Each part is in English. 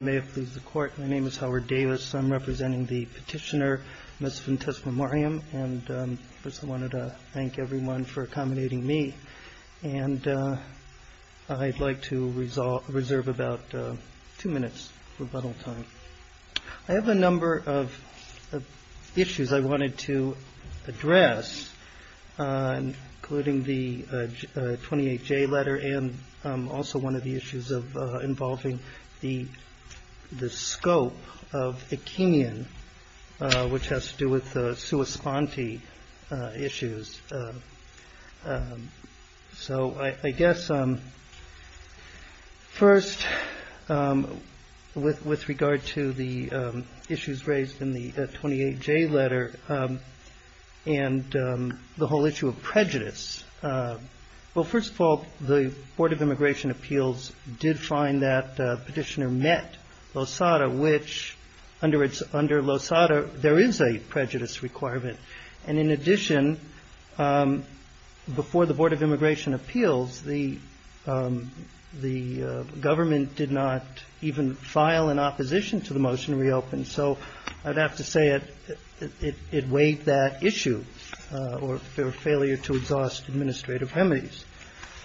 May it please the Court, my name is Howard Davis. I'm representing the petitioner, Ms. Ventes Memoriam, and I just wanted to thank everyone for accommodating me. And I'd like to reserve about two minutes rebuttal time. I have a number of issues I wanted to address, including the 28J letter, and also one of the issues of involving the scope of Acheinian, which has to do with the sua sponte issues. So I guess first, with regard to the issues raised in the 28J letter, and the whole issue of prejudice, well, first of all, the Board of Immigration Appeals did find that the petitioner met LOSADA, which under LOSADA, there is a prejudice requirement. And in addition, before the Board of Immigration Appeals, the government did not even file an opposition to the motion to reopen. So I'd have to say it weighed that issue, or their failure to exhaust administrative remedies.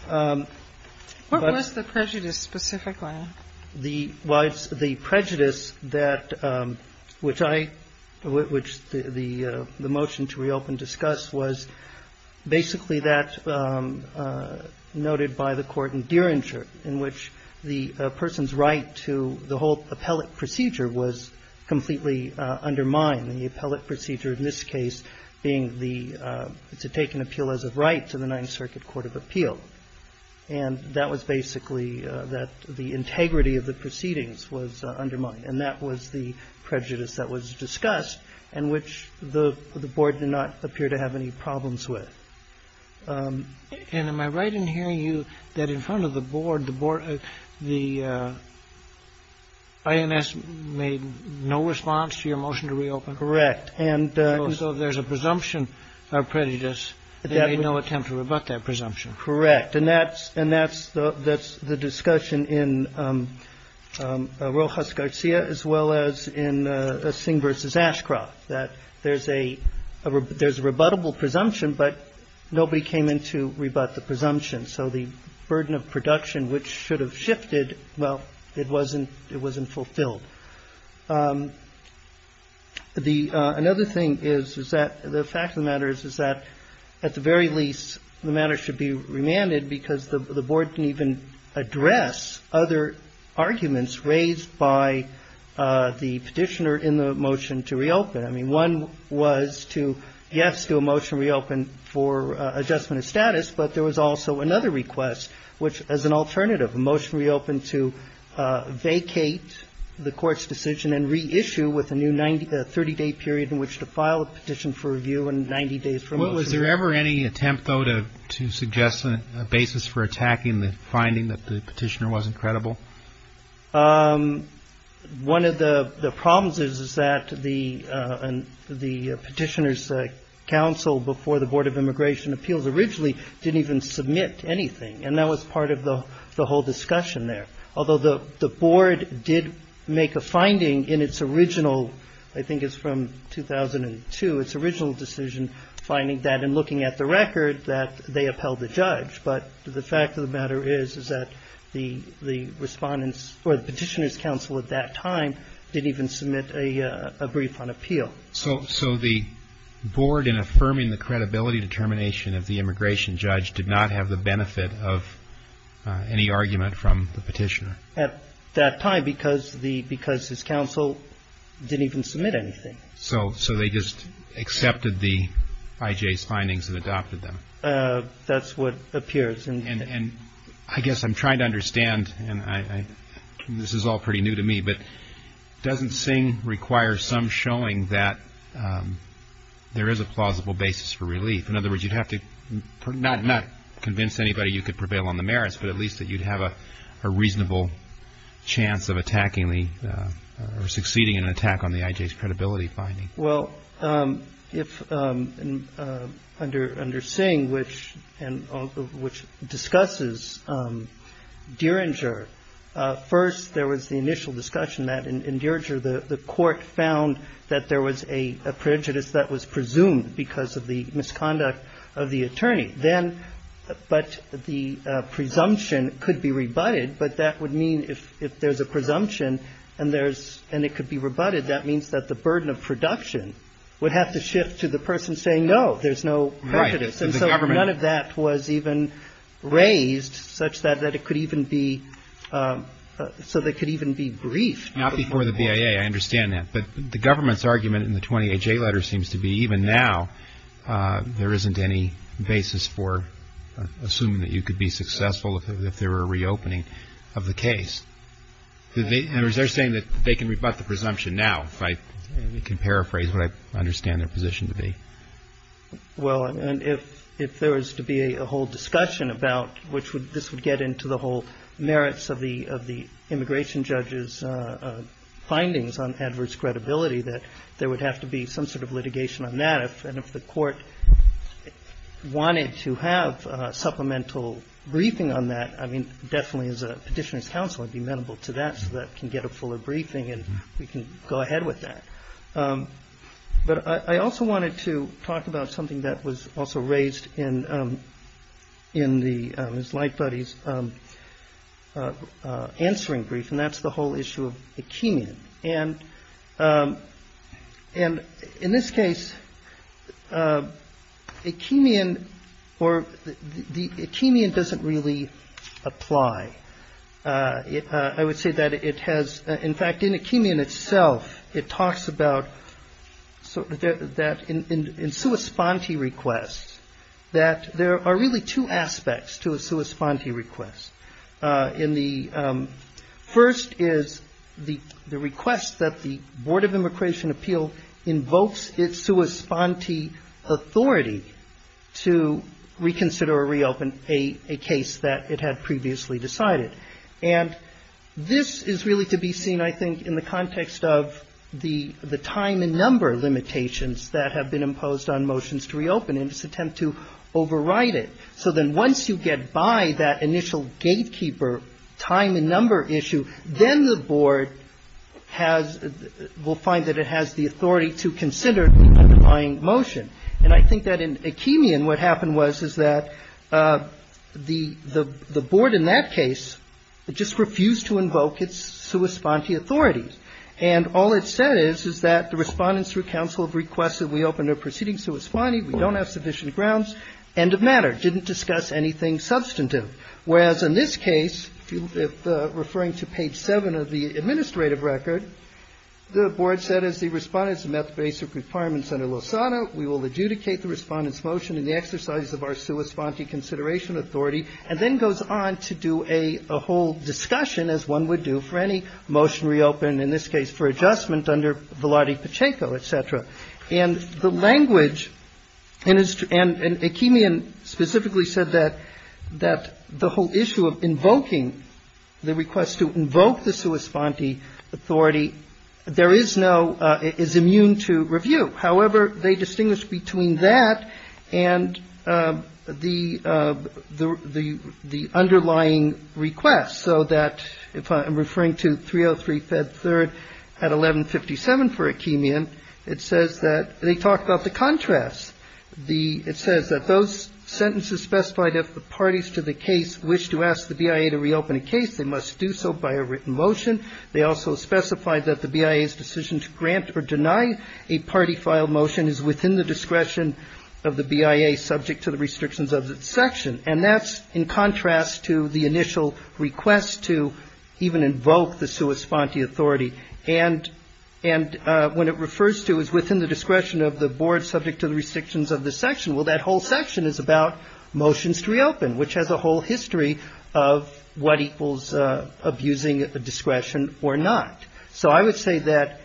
But the prejudice that, which I, which the motion to reopen discussed, was basically that noted by the court in Deringer, in which the person's right to the whole appellate procedure was completely undermined, the appellate procedure in this case being the to take an appeal as of right to the Ninth Circuit Court of Appeal. And that was basically that the integrity of the proceedings was undermined. And that was the prejudice that was discussed, and which the Board did not appear to have any problems with. And am I right in hearing you that in front of the Board, the INS made no response to your motion to reopen? Correct. And so there's a presumption of prejudice. There was no attempt to rebut that presumption. Correct. And that's the discussion in Rojas Garcia, as well as in Singh v. Ashcroft, that there's a rebuttable presumption, but nobody came in to rebut the presumption. So the burden of production, which should have shifted, well, it wasn't fulfilled. The, another thing is, is that the fact of the matter is, is that at the very least, the matter should be remanded because the Board didn't even address other arguments raised by the Petitioner in the motion to reopen. I mean, one was to, yes, do a motion to reopen for adjustment of status, but there was also another request, which as an alternative, a motion to reopen to vacate the Court's decision and reissue with a new 30-day period in which to file a petition for review and 90 days for motion. Was there ever any attempt, though, to suggest a basis for attacking the finding that the Petitioner wasn't credible? One of the problems is, is that the Petitioner's counsel before the Board of Immigration Appeals originally didn't even submit anything. And that was part of the whole discussion there. Although the Board did make a finding in its original, I think it's from 2002, its original decision finding that in looking at the record that they upheld the judge. But the fact of the matter is, is that the Respondent's, or the Petitioner's counsel at that time didn't even submit a brief on appeal. So the Board, in affirming the credibility determination of the immigration judge, did not have the benefit of any argument from the Petitioner? At that time, because the, because his counsel didn't even submit anything. So they just accepted the IJ's findings and adopted them? That's what appears. And I guess I'm trying to understand, and this is all pretty new to me, but doesn't Singh require some showing that there is a plausible basis for relief? In other words, you'd have to, not convince anybody you could prevail on the merits, but at least that you'd have a reasonable chance of attacking the, or succeeding in an attack on the IJ's credibility finding? Well, if, under Singh, which, and which discusses Diringer. First, there was the initial discussion that in Diringer, the court found that there was a prejudice that was presumed because of the misconduct of the attorney. Then, but the presumption could be rebutted, but that would mean if there's a presumption, and there's, and it could be rebutted, that means that the burden of production would have to shift to the person saying, no, there's no prejudice. And so none of that was even raised such that it could even be, so they could even be briefed. Not before the BIA, I understand that. But the government's argument in the 28J letter seems to be, even now, there isn't any basis for assuming that you could be successful if there were a reopening of the case. In other words, they're saying that they can rebut the presumption now, if I can paraphrase what I understand their position to be. Well, and if there was to be a whole discussion about which would, this would get into the whole merits of the immigration judge's findings on Edwards' credibility, that there would have to be some sort of litigation on that. And if the court wanted to have supplemental briefing on that, I mean, definitely as a petitioner's counsel, I'd be amenable to that, so that can get a fuller briefing, and we can go ahead with that. But I also wanted to talk about something that was also raised in the, Ms. Lightbody's, answering brief, and that's the whole issue of the Akeemian. And in this case, Akeemian, or the Akeemian doesn't really apply. I would say that it has, in fact, in Akeemian itself, it talks about, so that in sui sponte requests, that there are really two aspects to a sui sponte request. In the, first is the request that the Board of Immigration Appeal invokes its sui sponte authority to reconsider or reopen a case that it had previously decided. And this is really to be seen, I think, in the context of the time and number limitations that have been imposed on motions to reopen in this attempt to override it. So then once you get by that initial gatekeeper time and number issue, then the board has, will find that it has the authority to consider the underlying motion. And I think that in Akeemian, what happened was, is that the, the, the board in that case just refused to invoke its sui sponte authority. And all it said is, is that the respondents through counsel have requested we open a proceeding sui sponte, we don't have sufficient grounds, end of matter, didn't discuss anything substantive. Whereas in this case, if referring to page seven of the administrative record, the board said as the respondents met the basic requirements under Lozano, we will adjudicate the respondent's motion in the exercise of our sui sponte consideration authority. And then goes on to do a whole discussion, as one would do for any motion reopened, in this case for adjustment under Velarde Pacheco, etc. And the language, and Akeemian specifically said that, the whole issue of invoking the request to invoke the sui sponte authority, there is no, is immune to review. However, they distinguish between that and the underlying request. So that, if I'm referring to 303 Fed 3rd at 1157 for Akeemian. It says that, they talk about the contrast. It says that those sentences specified if the parties to the case wish to ask the BIA to reopen a case, they must do so by a written motion. They also specify that the BIA's decision to grant or deny a party file motion is within the discretion of the BIA subject to the restrictions of the section. And that's in contrast to the initial request to even invoke the sui sponte authority. And when it refers to is within the discretion of the board subject to the restrictions of the section. Well, that whole section is about motions to reopen, which has a whole history of what equals abusing a discretion or not. So I would say that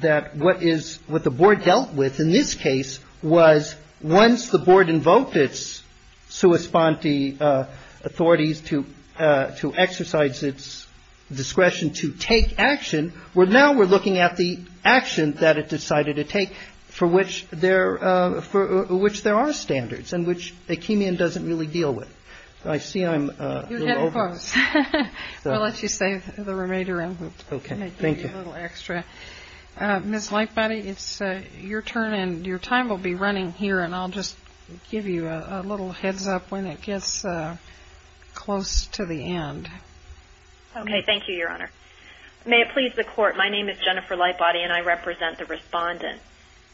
what the board dealt with in this case, the authorities to exercise its discretion to take action. Well, now we're looking at the action that it decided to take for which there are standards and which Akeemian doesn't really deal with. I see I'm close. I'll let you say the remainder. Okay. Thank you. Extra. Miss Lightbody, it's your turn and your time will be running here. And I'll just give you a little heads up when it gets close to the end. Okay. Thank you, Your Honor. May it please the court. My name is Jennifer Lightbody, and I represent the respondent.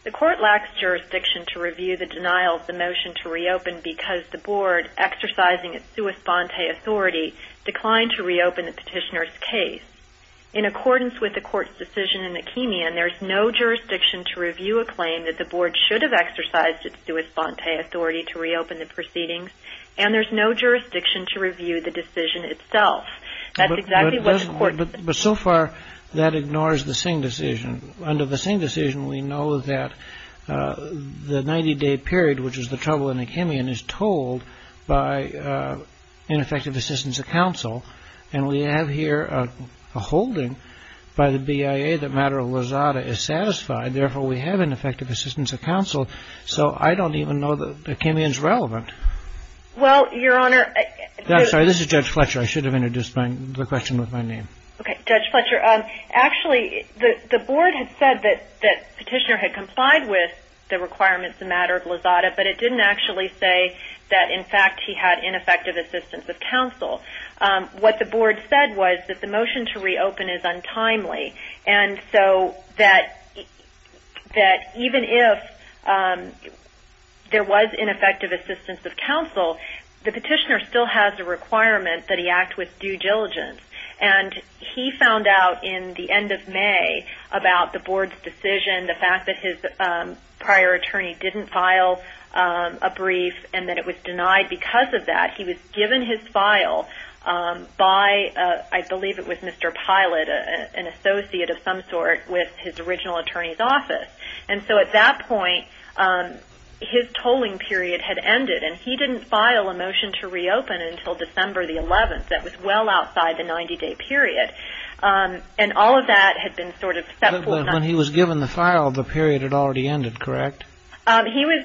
The court lacks jurisdiction to review the denial of the motion to reopen because the board, exercising its sui sponte authority, declined to reopen the petitioner's case. In accordance with the court's decision in Akeemian, there's no jurisdiction to review a claim that the board should have exercised its sui sponte authority to reopen the proceedings. And there's no jurisdiction to review the decision itself. That's exactly what the court. But so far, that ignores the Singh decision. Under the Singh decision, we know that the 90-day period, which is the trouble in Akeemian, is told by ineffective assistance of counsel. And we have here a holding by the BIA that matter of lazada is satisfied. Therefore, we have ineffective assistance of counsel. So I don't even know that Akeemian's relevant. Well, Your Honor. I'm sorry. This is Judge Fletcher. I should have introduced the question with my name. Okay. Judge Fletcher, actually, the board had said that the petitioner had complied with the requirements in matter of lazada, but it didn't actually say that, in fact, he had ineffective assistance of counsel. What the board said was that the motion to reopen is untimely. And so that even if there was ineffective assistance of counsel, the petitioner still has a requirement that he act with due diligence. And he found out in the end of May about the board's decision, the fact that his prior attorney didn't file a brief and that it was denied because of that. He was given his file by, I believe it was Mr. Pilot, an associate of some sort with his original attorney's office. And so at that point, his tolling period had ended. And he didn't file a motion to reopen until December the 11th. That was well outside the 90-day period. And all of that had been sort of set forth on that. But when he was given the file, the period had already ended, correct? He was,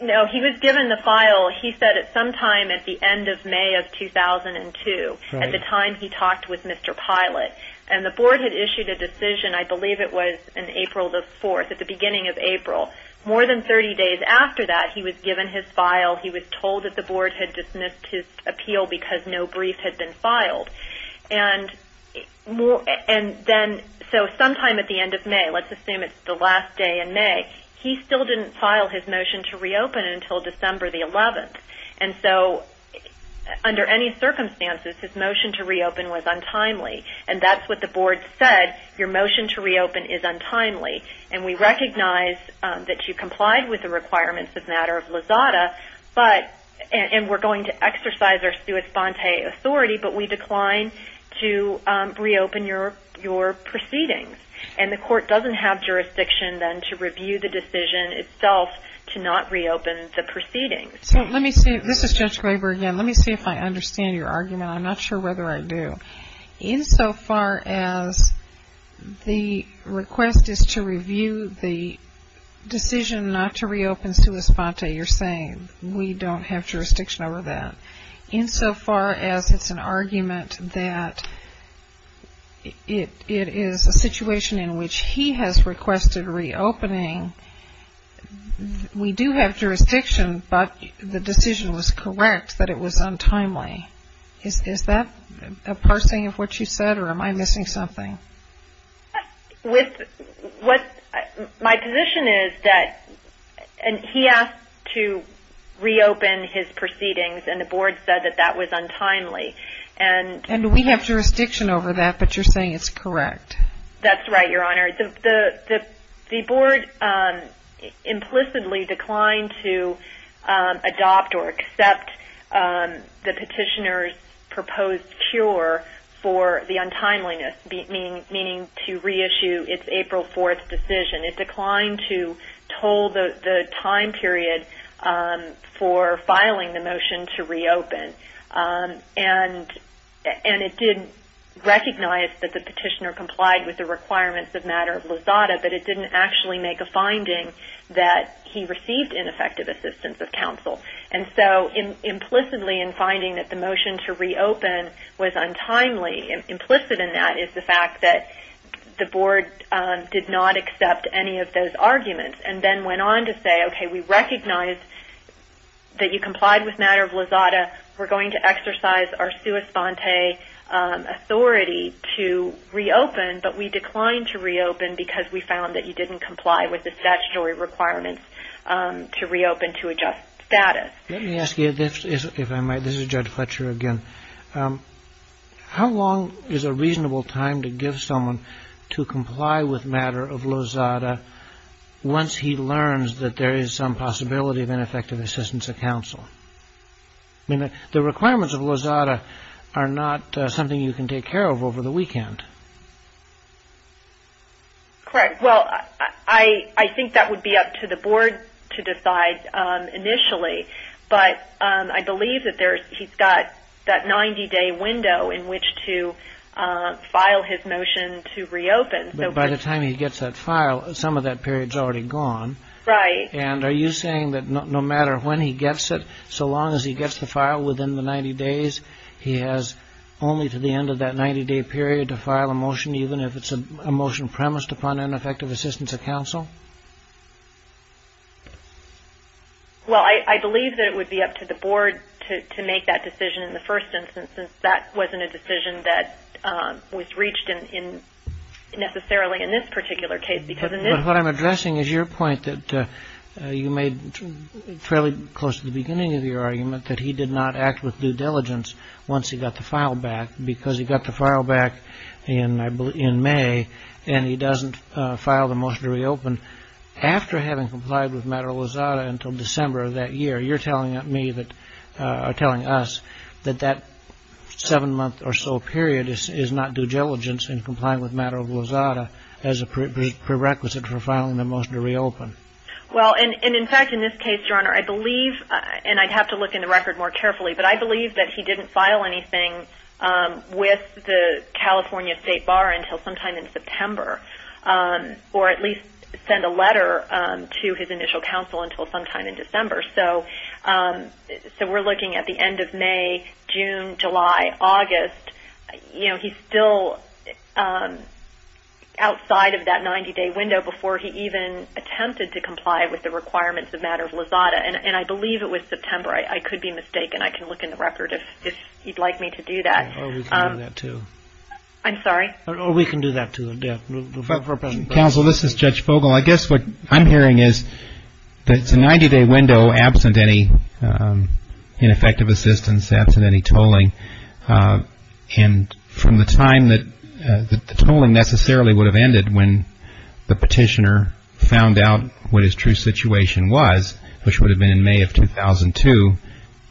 no, he was given the file. He said at some time at the end of May of 2002, at the time he talked with Mr. Pilot. And the board had issued a decision, I believe it was in April the 4th, at the beginning of April. More than 30 days after that, he was given his file. He was told that the board had dismissed his appeal because no brief had been filed. And then, so sometime at the end of May, let's assume it's the last day in May, he still didn't file his motion to reopen until December the 11th. And so under any circumstances, his motion to reopen was untimely. And that's what the board said, your motion to reopen is untimely. And we recognize that you complied with the requirements as a matter of LAZADA. But, and we're going to exercise our sui sponte authority, but we decline to reopen your proceedings. And the court doesn't have jurisdiction then to review the decision itself to not reopen the proceedings. So let me see, this is Judge Graber again. Let me see if I understand your argument. I'm not sure whether I do. In so far as the request is to review the decision not to reopen sui sponte, you're saying we don't have jurisdiction over that. In so far as it's an argument that it is a situation in which he has requested reopening, we do have jurisdiction, but the decision was correct that it was untimely. Is that a parsing of what you said or am I missing something? With what, my position is that, and he asked to reopen his proceedings and the board said that that was untimely. And we have jurisdiction over that, but you're saying it's correct. That's right, your honor. The board implicitly declined to adopt or accept the petitioner's proposed cure for the untimeliness, meaning to reissue its April 4th decision. It declined to toll the time period for filing the motion to reopen. And it did recognize that the petitioner complied with the requirements of matter of lazada, but it didn't actually make a finding that he received ineffective assistance of counsel. And so implicitly in finding that the motion to reopen was untimely, implicit in that is the fact that the board did not accept any of those arguments. And then went on to say, okay, we recognize that you complied with matter of lazada. We're going to exercise our sua sponte authority to reopen, but we declined to reopen because we found that you didn't comply with the statutory requirements to reopen to adjust status. Let me ask you this, if I might. This is Judge Fletcher again. How long is a reasonable time to give someone to comply with matter of lazada once he learns that there is some possibility of ineffective assistance of counsel? I mean, the requirements of lazada are not something you can take care of over the weekend. Correct. Well, I think that would be up to the board to decide initially. But I believe that he's got that 90-day window in which to file his motion to reopen. But by the time he gets that file, some of that period is already gone. Right. And are you saying that no matter when he gets it, so long as he gets the file within the 90 days, he has only to the end of that 90-day period to file a motion, even if it's a motion premised upon ineffective assistance of counsel? Well, I believe that it would be up to the board to make that decision in the first instance, since that wasn't a decision that was reached necessarily in this particular case. But what I'm addressing is your point that you made fairly close to the beginning of your argument, that he did not act with due diligence once he got the file back because he got the file back in May and he doesn't file the motion to reopen after having complied with matter of lazada until December of that year. You're telling me that are telling us that that seven month or so period is not due diligence in complying with matter of lazada as a prerequisite for filing the motion to reopen? Well, and in fact, in this case, Your Honor, I believe, and I'd have to look in the record more carefully, but I believe that he didn't file anything with the California State Bar until sometime in September, or at least send a letter to his initial counsel until sometime in December. So we're looking at the end of May, June, July, August. You know, he's still outside of that 90-day window before he even attempted to comply with the requirements of matter of lazada. And I believe it was September. I could be mistaken. I can look in the record if you'd like me to do that. Or we can do that too. I'm sorry? Or we can do that too. Counsel, this is Judge Fogle. I guess what I'm hearing is that it's a 90-day window absent any ineffective assistance, absent any tolling. And from the time that the tolling necessarily would have ended when the petitioner found out what his true situation was, which would have been in May of 2002,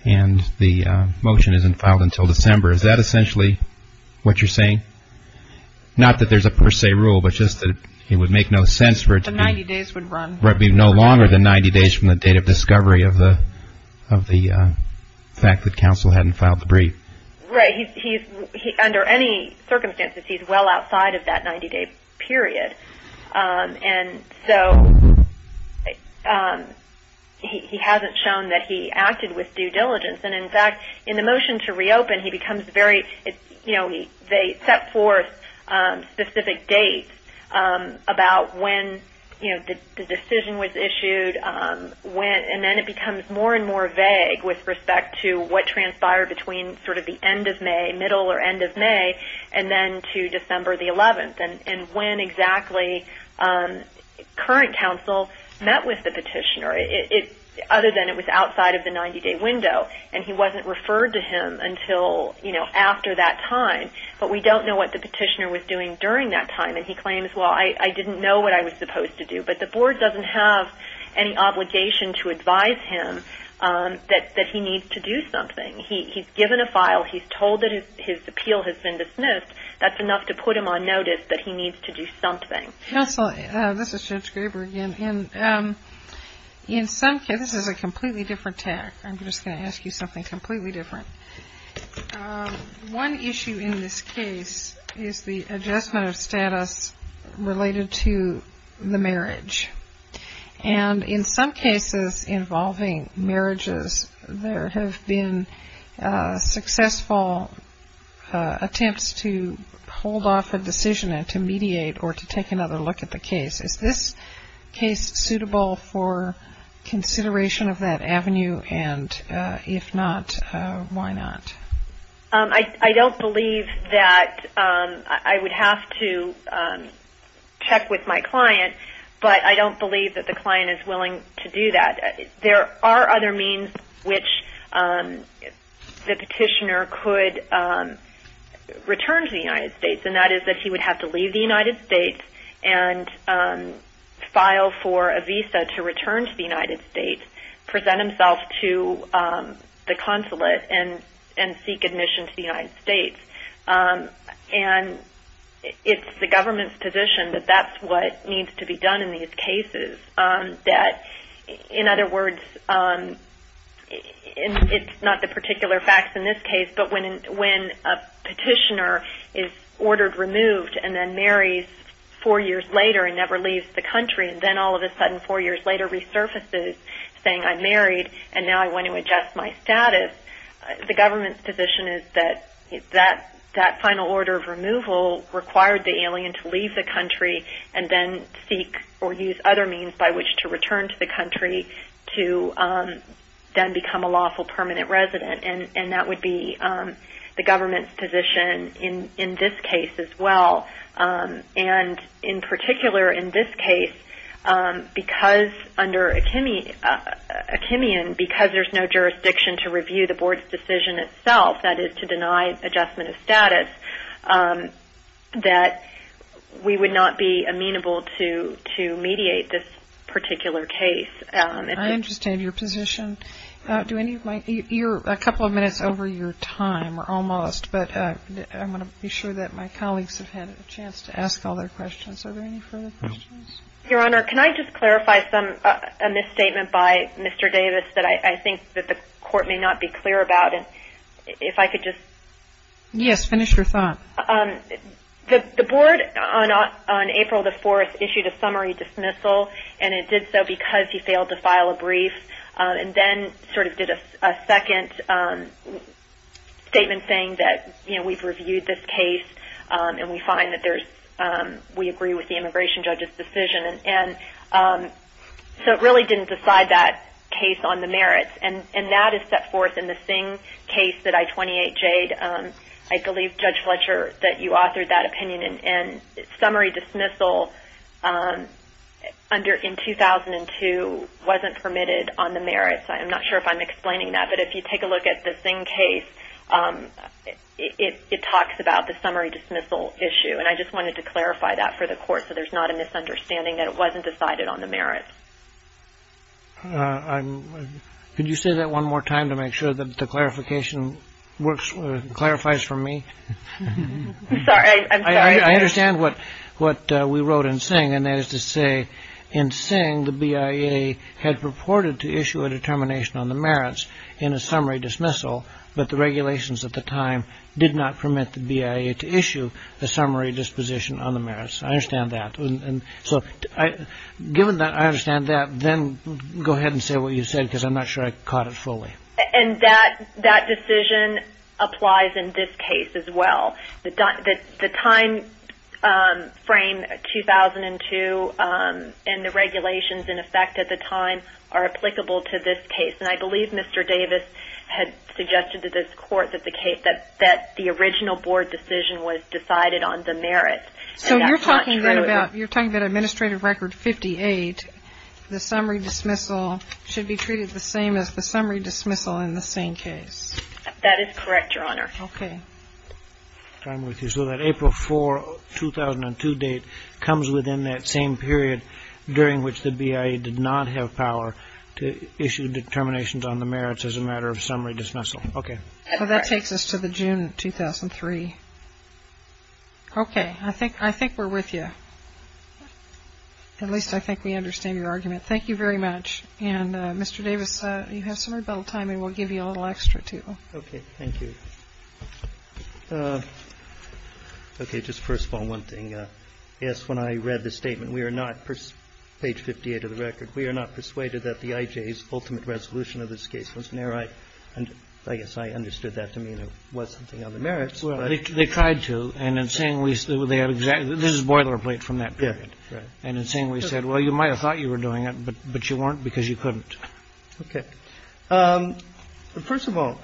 and the motion isn't filed until December, is that essentially what you're saying? Not that there's a per se rule, but just that it would make no sense for it to be no longer than 90 days from the date of discovery of the fact that counsel hadn't filed the brief. Right. Under any circumstances, he's well outside of that 90-day period. And so he hasn't shown that he acted with due diligence. And in fact, in the motion to reopen, he becomes very, you know, they set forth specific dates about when, you know, the decision was issued, and then it becomes more and more vague with respect to what transpired between sort of the end of May, middle or end of May, and then to December the 11th. And when exactly current counsel met with the petitioner, other than it was outside of the 90-day window, and he wasn't referred to him until, you know, after that time. But we don't know what the petitioner was doing during that time. And he claims, well, I didn't know what I was supposed to do. But the board doesn't have any obligation to advise him that he needs to do something. He's given a file. He's told that his appeal has been dismissed. That's enough to put him on notice that he needs to do something. Counsel, this is Judge Graber again. In some cases, this is a completely different tack. I'm just going to ask you something completely different. One issue in this case is the adjustment of status related to the marriage. And in some cases involving marriages, there have been successful attempts to hold off a decision and to mediate or to take another look at the case. Is this case suitable for consideration of that avenue? And if not, why not? I don't believe that I would have to check with my client, but I don't believe that the client is willing to do that. There are other means which the petitioner could return to the United States, and that is that he would have to leave the United States and file for a visa to return to the United States, present himself to the consulate, and seek admission to the United States. And it's the government's position that that's what needs to be done in these cases. In other words, it's not the particular facts in this case, but when a petitioner is ordered removed and then marries four years later and never leaves the country, and then all of a sudden four years later resurfaces saying, I'm married, and now I want to adjust my status, the government's position is that that final order of removal required the alien to leave the country and then seek or use other means by which to return to the country to then become a lawful permanent resident. And that would be the government's position in this case as well. And in particular in this case, because under Achimian, because there's no jurisdiction to review the board's decision itself, that is to deny adjustment of status, that we would not be amenable to mediate this particular case. I understand your position. Do any of my, you're a couple of minutes over your time, or almost, but I want to be sure that my colleagues have had a chance to ask all their questions. Are there any further questions? Your Honor, can I just clarify a misstatement by Mr. Davis that I think that the court may not be clear about, and if I could just... Yes, finish your thought. The board on April the 4th issued a summary dismissal, and it did so because he failed to file a brief. And then sort of did a second statement saying that, you know, we've reviewed this case, and we find that there's, we agree with the immigration judge's decision. And so it really didn't decide that case on the merits. And that is set forth in the Singh case that I-28 Jade. I believe, Judge Fletcher, that you authored that opinion. And summary dismissal in 2002 wasn't permitted on the merits. I'm not sure if I'm explaining that, but if you take a look at the Singh case, it talks about the summary dismissal issue. And I just wanted to clarify that for the court so there's not a misunderstanding that it wasn't decided on the merits. Could you say that one more time to make sure that the clarification works, clarifies for me? I'm sorry. I understand what we wrote in Singh, and that is to say in Singh, the BIA had purported to issue a determination on the merits in a summary dismissal, but the regulations at the time did not permit the BIA to issue a summary disposition on the merits. I understand that. And so given that I understand that, then go ahead and say what you said because I'm not sure I caught it fully. And that decision applies in this case as well. The timeframe 2002 and the regulations in effect at the time are applicable to this case. And I believe Mr. Davis had suggested to this court that the original board decision was decided on the merits. So you're talking about administrative record 58, the summary dismissal should be treated the same as the summary dismissal in the same case. That is correct, Your Honor. Okay. I'm with you. So that April 4, 2002 date comes within that same period during which the BIA did not have power to issue determinations on the merits as a matter of summary dismissal. Okay. That takes us to the June 2003. Okay. I think we're with you. At least I think we understand your argument. Thank you very much. And, Mr. Davis, you have some rebuttal time, and we'll give you a little extra, too. Okay. Thank you. Okay. Just first of all, one thing. Yes, when I read the statement, we are not, page 58 of the record, we are not persuaded that the IJ's ultimate resolution of this case was narrow. And I guess I understood that to mean it was something on the merits. They tried to. And in saying this is boilerplate from that period. And in saying we said, well, you might have thought you were doing it, but you weren't because you couldn't. Okay. First of all,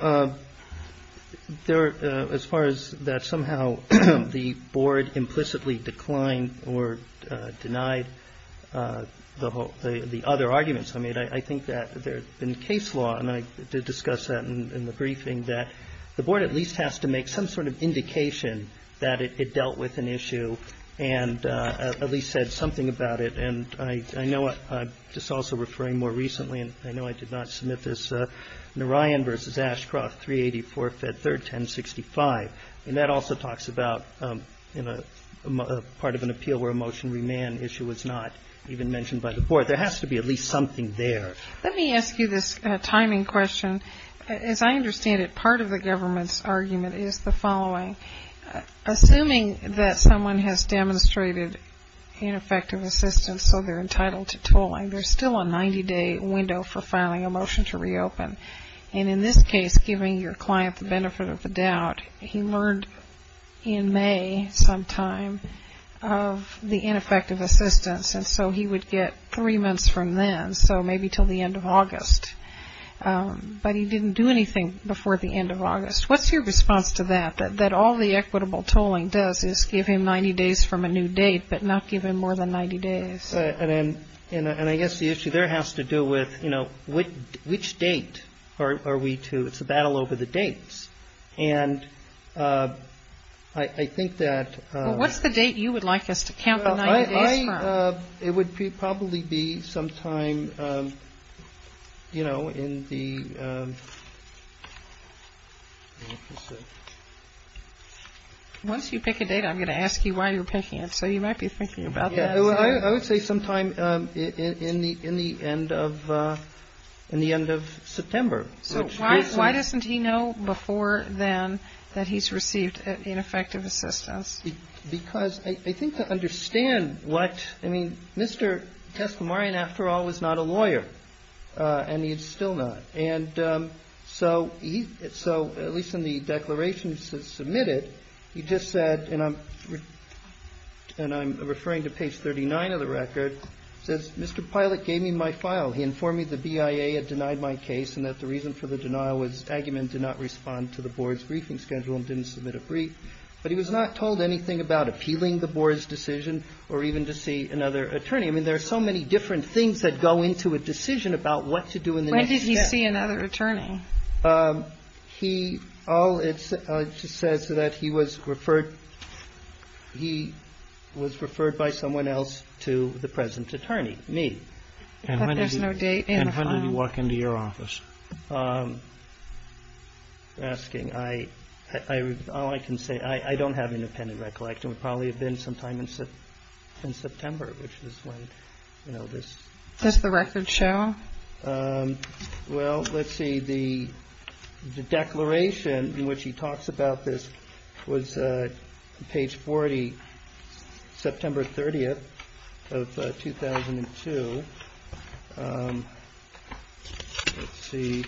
as far as that somehow the board implicitly declined or denied the other arguments I made, I think that there's been case law, and I did discuss that in the briefing, that the board at least has to make some sort of indication that it dealt with an issue and at least said something about it. And I know I'm just also referring more recently, and I know I did not submit this, Narayan v. Ashcroft, 384, Fed 3rd, 1065. And that also talks about part of an appeal where a motion remand issue was not even mentioned by the board. There has to be at least something there. Let me ask you this timing question. As I understand it, part of the government's argument is the following. Assuming that someone has demonstrated ineffective assistance, so they're entitled to tolling, there's still a 90-day window for filing a motion to reopen. And in this case, giving your client the benefit of the doubt, he learned in May sometime of the ineffective assistance. And so he would get three months from then. So maybe till the end of August. But he didn't do anything before the end of August. What's your response to that? That all the equitable tolling does is give him 90 days from a new date, but not give him more than 90 days. And I guess the issue there has to do with, you know, which date are we to? It's a battle over the dates. And I think that... Well, what's the date you would like us to count the 90 days from? It would probably be sometime, you know, in the... Once you pick a date, I'm going to ask you why you're picking it. So you might be thinking about that. I would say sometime in the end of September. So why doesn't he know before then that he's received ineffective assistance? Because I think to understand what... I mean, Mr. Teslamarian, after all, was not a lawyer. And he is still not. And so, at least in the declarations submitted, he just said, and I'm referring to page 39 of the record, says, Mr. Pilot gave me my file. He informed me the BIA had denied my case and that the reason for the denial was Aggerman did not respond to the board's briefing schedule and didn't submit a brief. But he was not told anything about appealing the board's decision or even to see another attorney. I mean, there are so many different things that go into a decision about what to do in the next step. When did he see another attorney? He... It just says that he was referred... He was referred by someone else to the present attorney, me. And when did he walk into your office? You're asking. All I can say, I don't have independent recollection. It would probably have been sometime in September, which is when, you know, this... Does the record show? Well, let's see. The declaration in which he talks about this was page 40, September 30th of 2002. Let's see.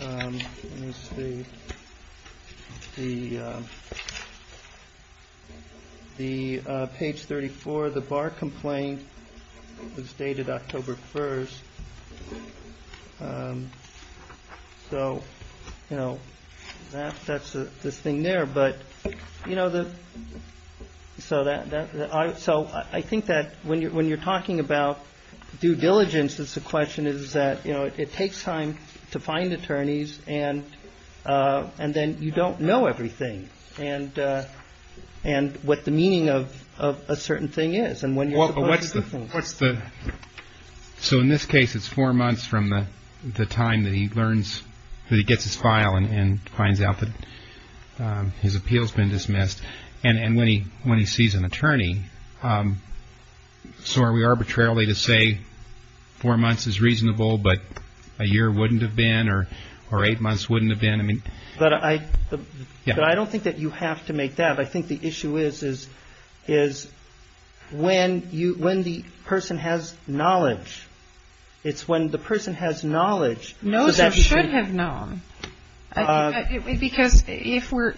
Let me see. The... The page 34, the bar complaint was dated October 1st. So, you know, that's this thing there. But, you know, the... So I think that when you're talking about due diligence, it's a question is that, you know, it takes time to find attorneys and then you don't know everything and what the meaning of a certain thing is and when you're supposed to do things. So in this case, it's four months from the time that he learns... that he gets his file and finds out that his appeal's been dismissed and when he sees an attorney, so are we arbitrarily to say four months is reasonable but a year wouldn't have been or eight months wouldn't have been? But I don't think that you have to make that. I think the issue is when the person has knowledge. It's when the person has knowledge... I would have known because if we're...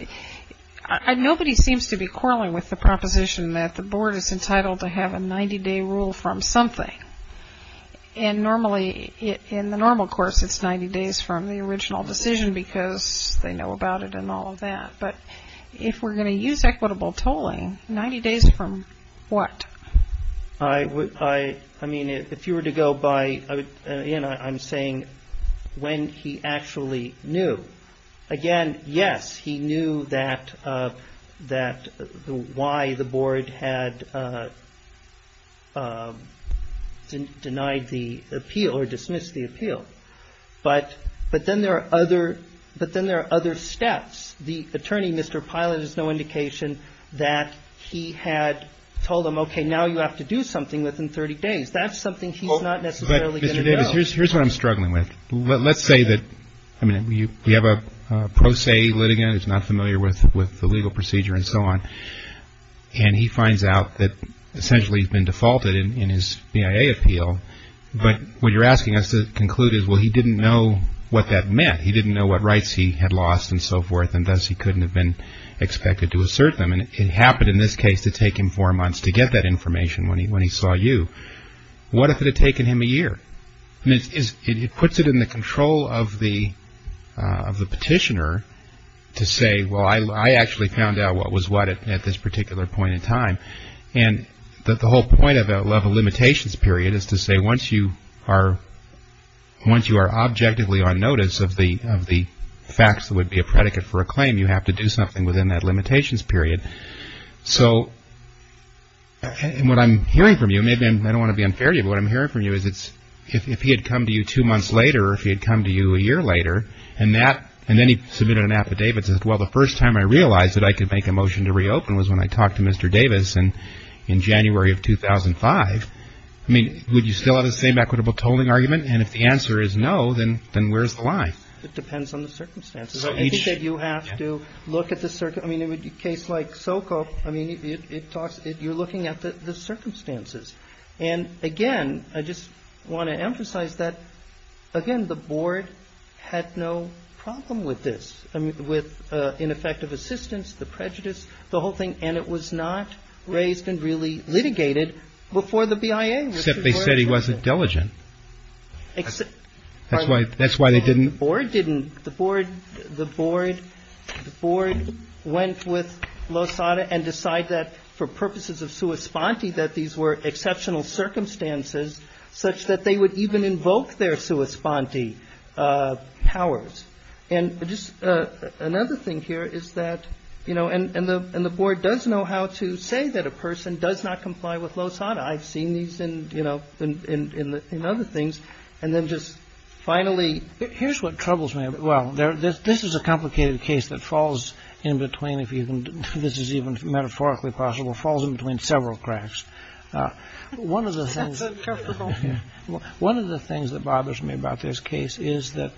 Nobody seems to be quarreling with the proposition that the board is entitled to have a 90-day rule from something and normally, in the normal course, it's 90 days from the original decision because they know about it and all of that. But if we're going to use equitable tolling, 90 days from what? I mean, if you were to go by... I'm saying when he actually knew. Again, yes, he knew that why the board had denied the appeal or dismissed the appeal but then there are other steps. The attorney, Mr. Pilot, has no indication that he had told him, okay, now you have to do something within 30 days. That's something he's not necessarily going to know. Mr. Davis, here's what I'm struggling with. Let's say that we have a pro se litigant who's not familiar with the legal procedure and so on and he finds out that essentially he's been defaulted in his BIA appeal but what you're asking us to conclude is, well, he didn't know what that meant. He didn't know what rights he had lost and so forth and thus he couldn't have been expected to assert them and it happened in this case to take him four months to get that information when he saw you. What if it had taken him a year? It puts it in the control of the petitioner to say, well, I actually found out what was what at this particular point in time and the whole point of a level limitations period is to say once you are objectively on notice of the facts that would be a predicate for a claim you have to do something within that limitations period. So what I'm hearing from you maybe I don't want to be unfair to you, but what I'm hearing from you is if he had come to you two months later or if he had come to you a year later and then he submitted an affidavit and said, well, the first time I realized that I could make a motion to reopen was when I talked to Mr. Davis in January of 2005 would you still have the same equitable tolling argument? And if the answer is no, then where's the line? It depends on the circumstances. I think that you have to look at the circumstances. I mean, in a case like Sokol, I mean, you're looking at the circumstances. And again, I just want to emphasize that, again, the board had no problem with this, with ineffective assistance, the prejudice, the whole thing, and it was not raised and really litigated before the BIA. Except they said he wasn't diligent. That's why they didn't. The board didn't. The board went with Lozada and decided that for purposes of sua sponte that these were exceptional circumstances such that they would even invoke their sua sponte powers. And just another thing here is that, you know, and the board does know how to say that a person does not comply with Lozada. I've seen these in, you know, in other things. And then just finally... Here's what troubles me. Well, this is a complicated case that falls in between, if this is even metaphorically possible, falls in between several cracks. One of the things that bothers me about this case is that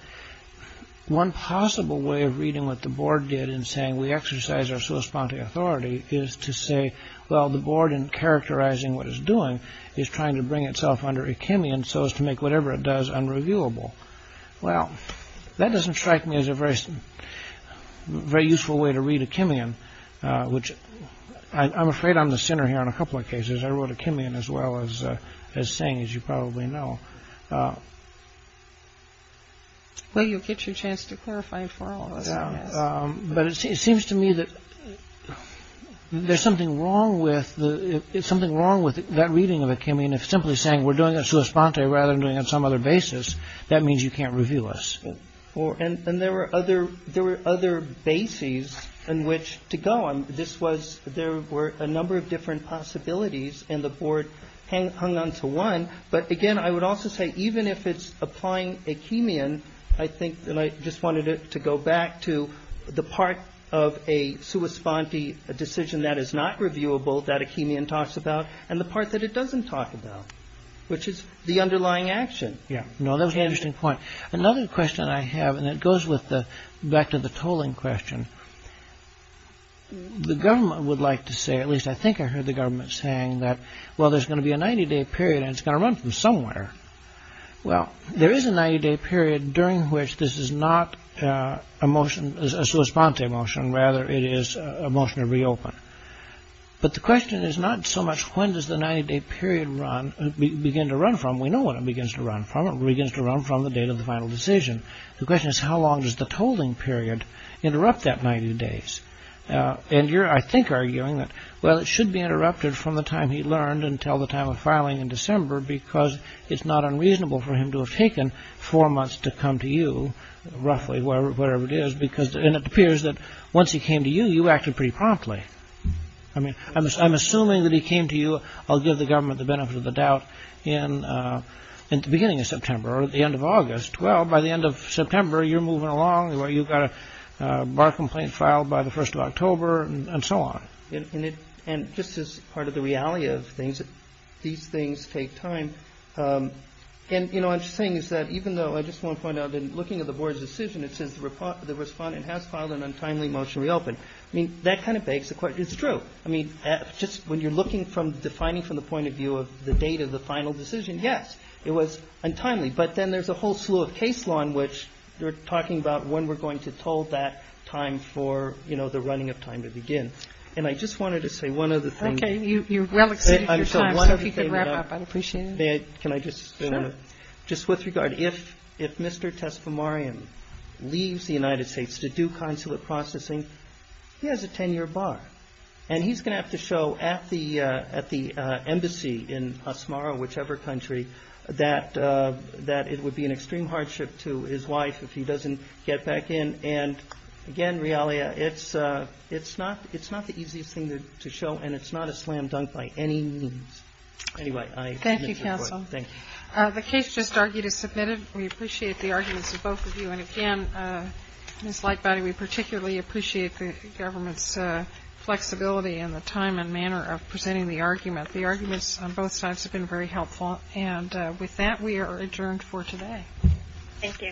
one possible way of reading what the board did in saying we exercise our sua sponte authority is to say well, the board in characterizing what it's doing is trying to bring itself under a Kimian so as to make whatever it does unreviewable. Well, that doesn't strike me as a very useful way to read a Kimian, which I'm afraid I'm the sinner here on a couple of cases. I wrote a Kimian as well as saying, as you probably know. Well, you'll get your chance to clarify for all of us. But it seems to me that there's something wrong with that reading of a Kimian if simply saying we're doing a sua sponte rather than doing it on some other basis that means you can't review us. There were other bases in which to go on. There were a number of different possibilities and the board hung on to one. But again, I would also say even if it's applying a Kimian I think, and I just wanted to go back to the part of a sua sponte decision that is not reviewable that a Kimian talks about and the part that it doesn't talk about, which is the underlying action. No, that was an interesting point. Another question I have and it goes back to the tolling question the government would like to say, at least I think I heard the government saying that, well, there's going to be a 90-day period and it's going to run from somewhere. Well, there is a 90-day period during which this is not a sua sponte motion, rather it is a motion to reopen. But the question is not so much when does the 90-day period begin to run from. We know when it begins to run from. It begins to run from the date of the final decision. The question is how long does the tolling period interrupt that 90 days? And you're, I think, arguing that well, it should be interrupted from the time he learned until the time of filing in December because it's not unreasonable for him to have taken four months to come to you roughly, wherever it is. And it appears that once he came to you, you acted pretty promptly. I'm assuming that he came to you, I'll give the government the benefit of the doubt in the beginning of September or the end of August. Well, by the end of September, you're moving along where you've got a bar complaint filed by the first of October and so on. And just as part of the reality of things these things take time. And you know what I'm saying is that even though I just want to point out that in looking at the board's decision it says the respondent has filed an untimely motion to reopen. I mean, that kind of begs the question It's true. I mean, just when you're looking from, defining from the point of view of the date of the final decision, yes, it was untimely. But then there's a whole slew of case law in which you're talking about when we're going to toll that time for, you know, the running of time to begin. And I just wanted to say one other thing Okay, you've well exceeded your time, so if you could wrap up, I'd appreciate it Can I just, just with regard, if Mr. Tesfamarian leaves the United States to do consulate processing he has a 10-year bar. And he's going to have to show at the at the embassy in Osmara, whichever country that it would be an extreme hardship to his wife if he doesn't get back in. And again, Realia, it's not the easiest thing to show, and it's not a slam dunk by any means Anyway, I admit to the point. Thank you, counsel. The case just argued is submitted. We appreciate the arguments of both of you. And again, Ms. Lightbody, we particularly appreciate the government's flexibility in the time and manner of presenting the argument. The arguments on both sides have been very helpful. And with that, we are adjourned for today Thank you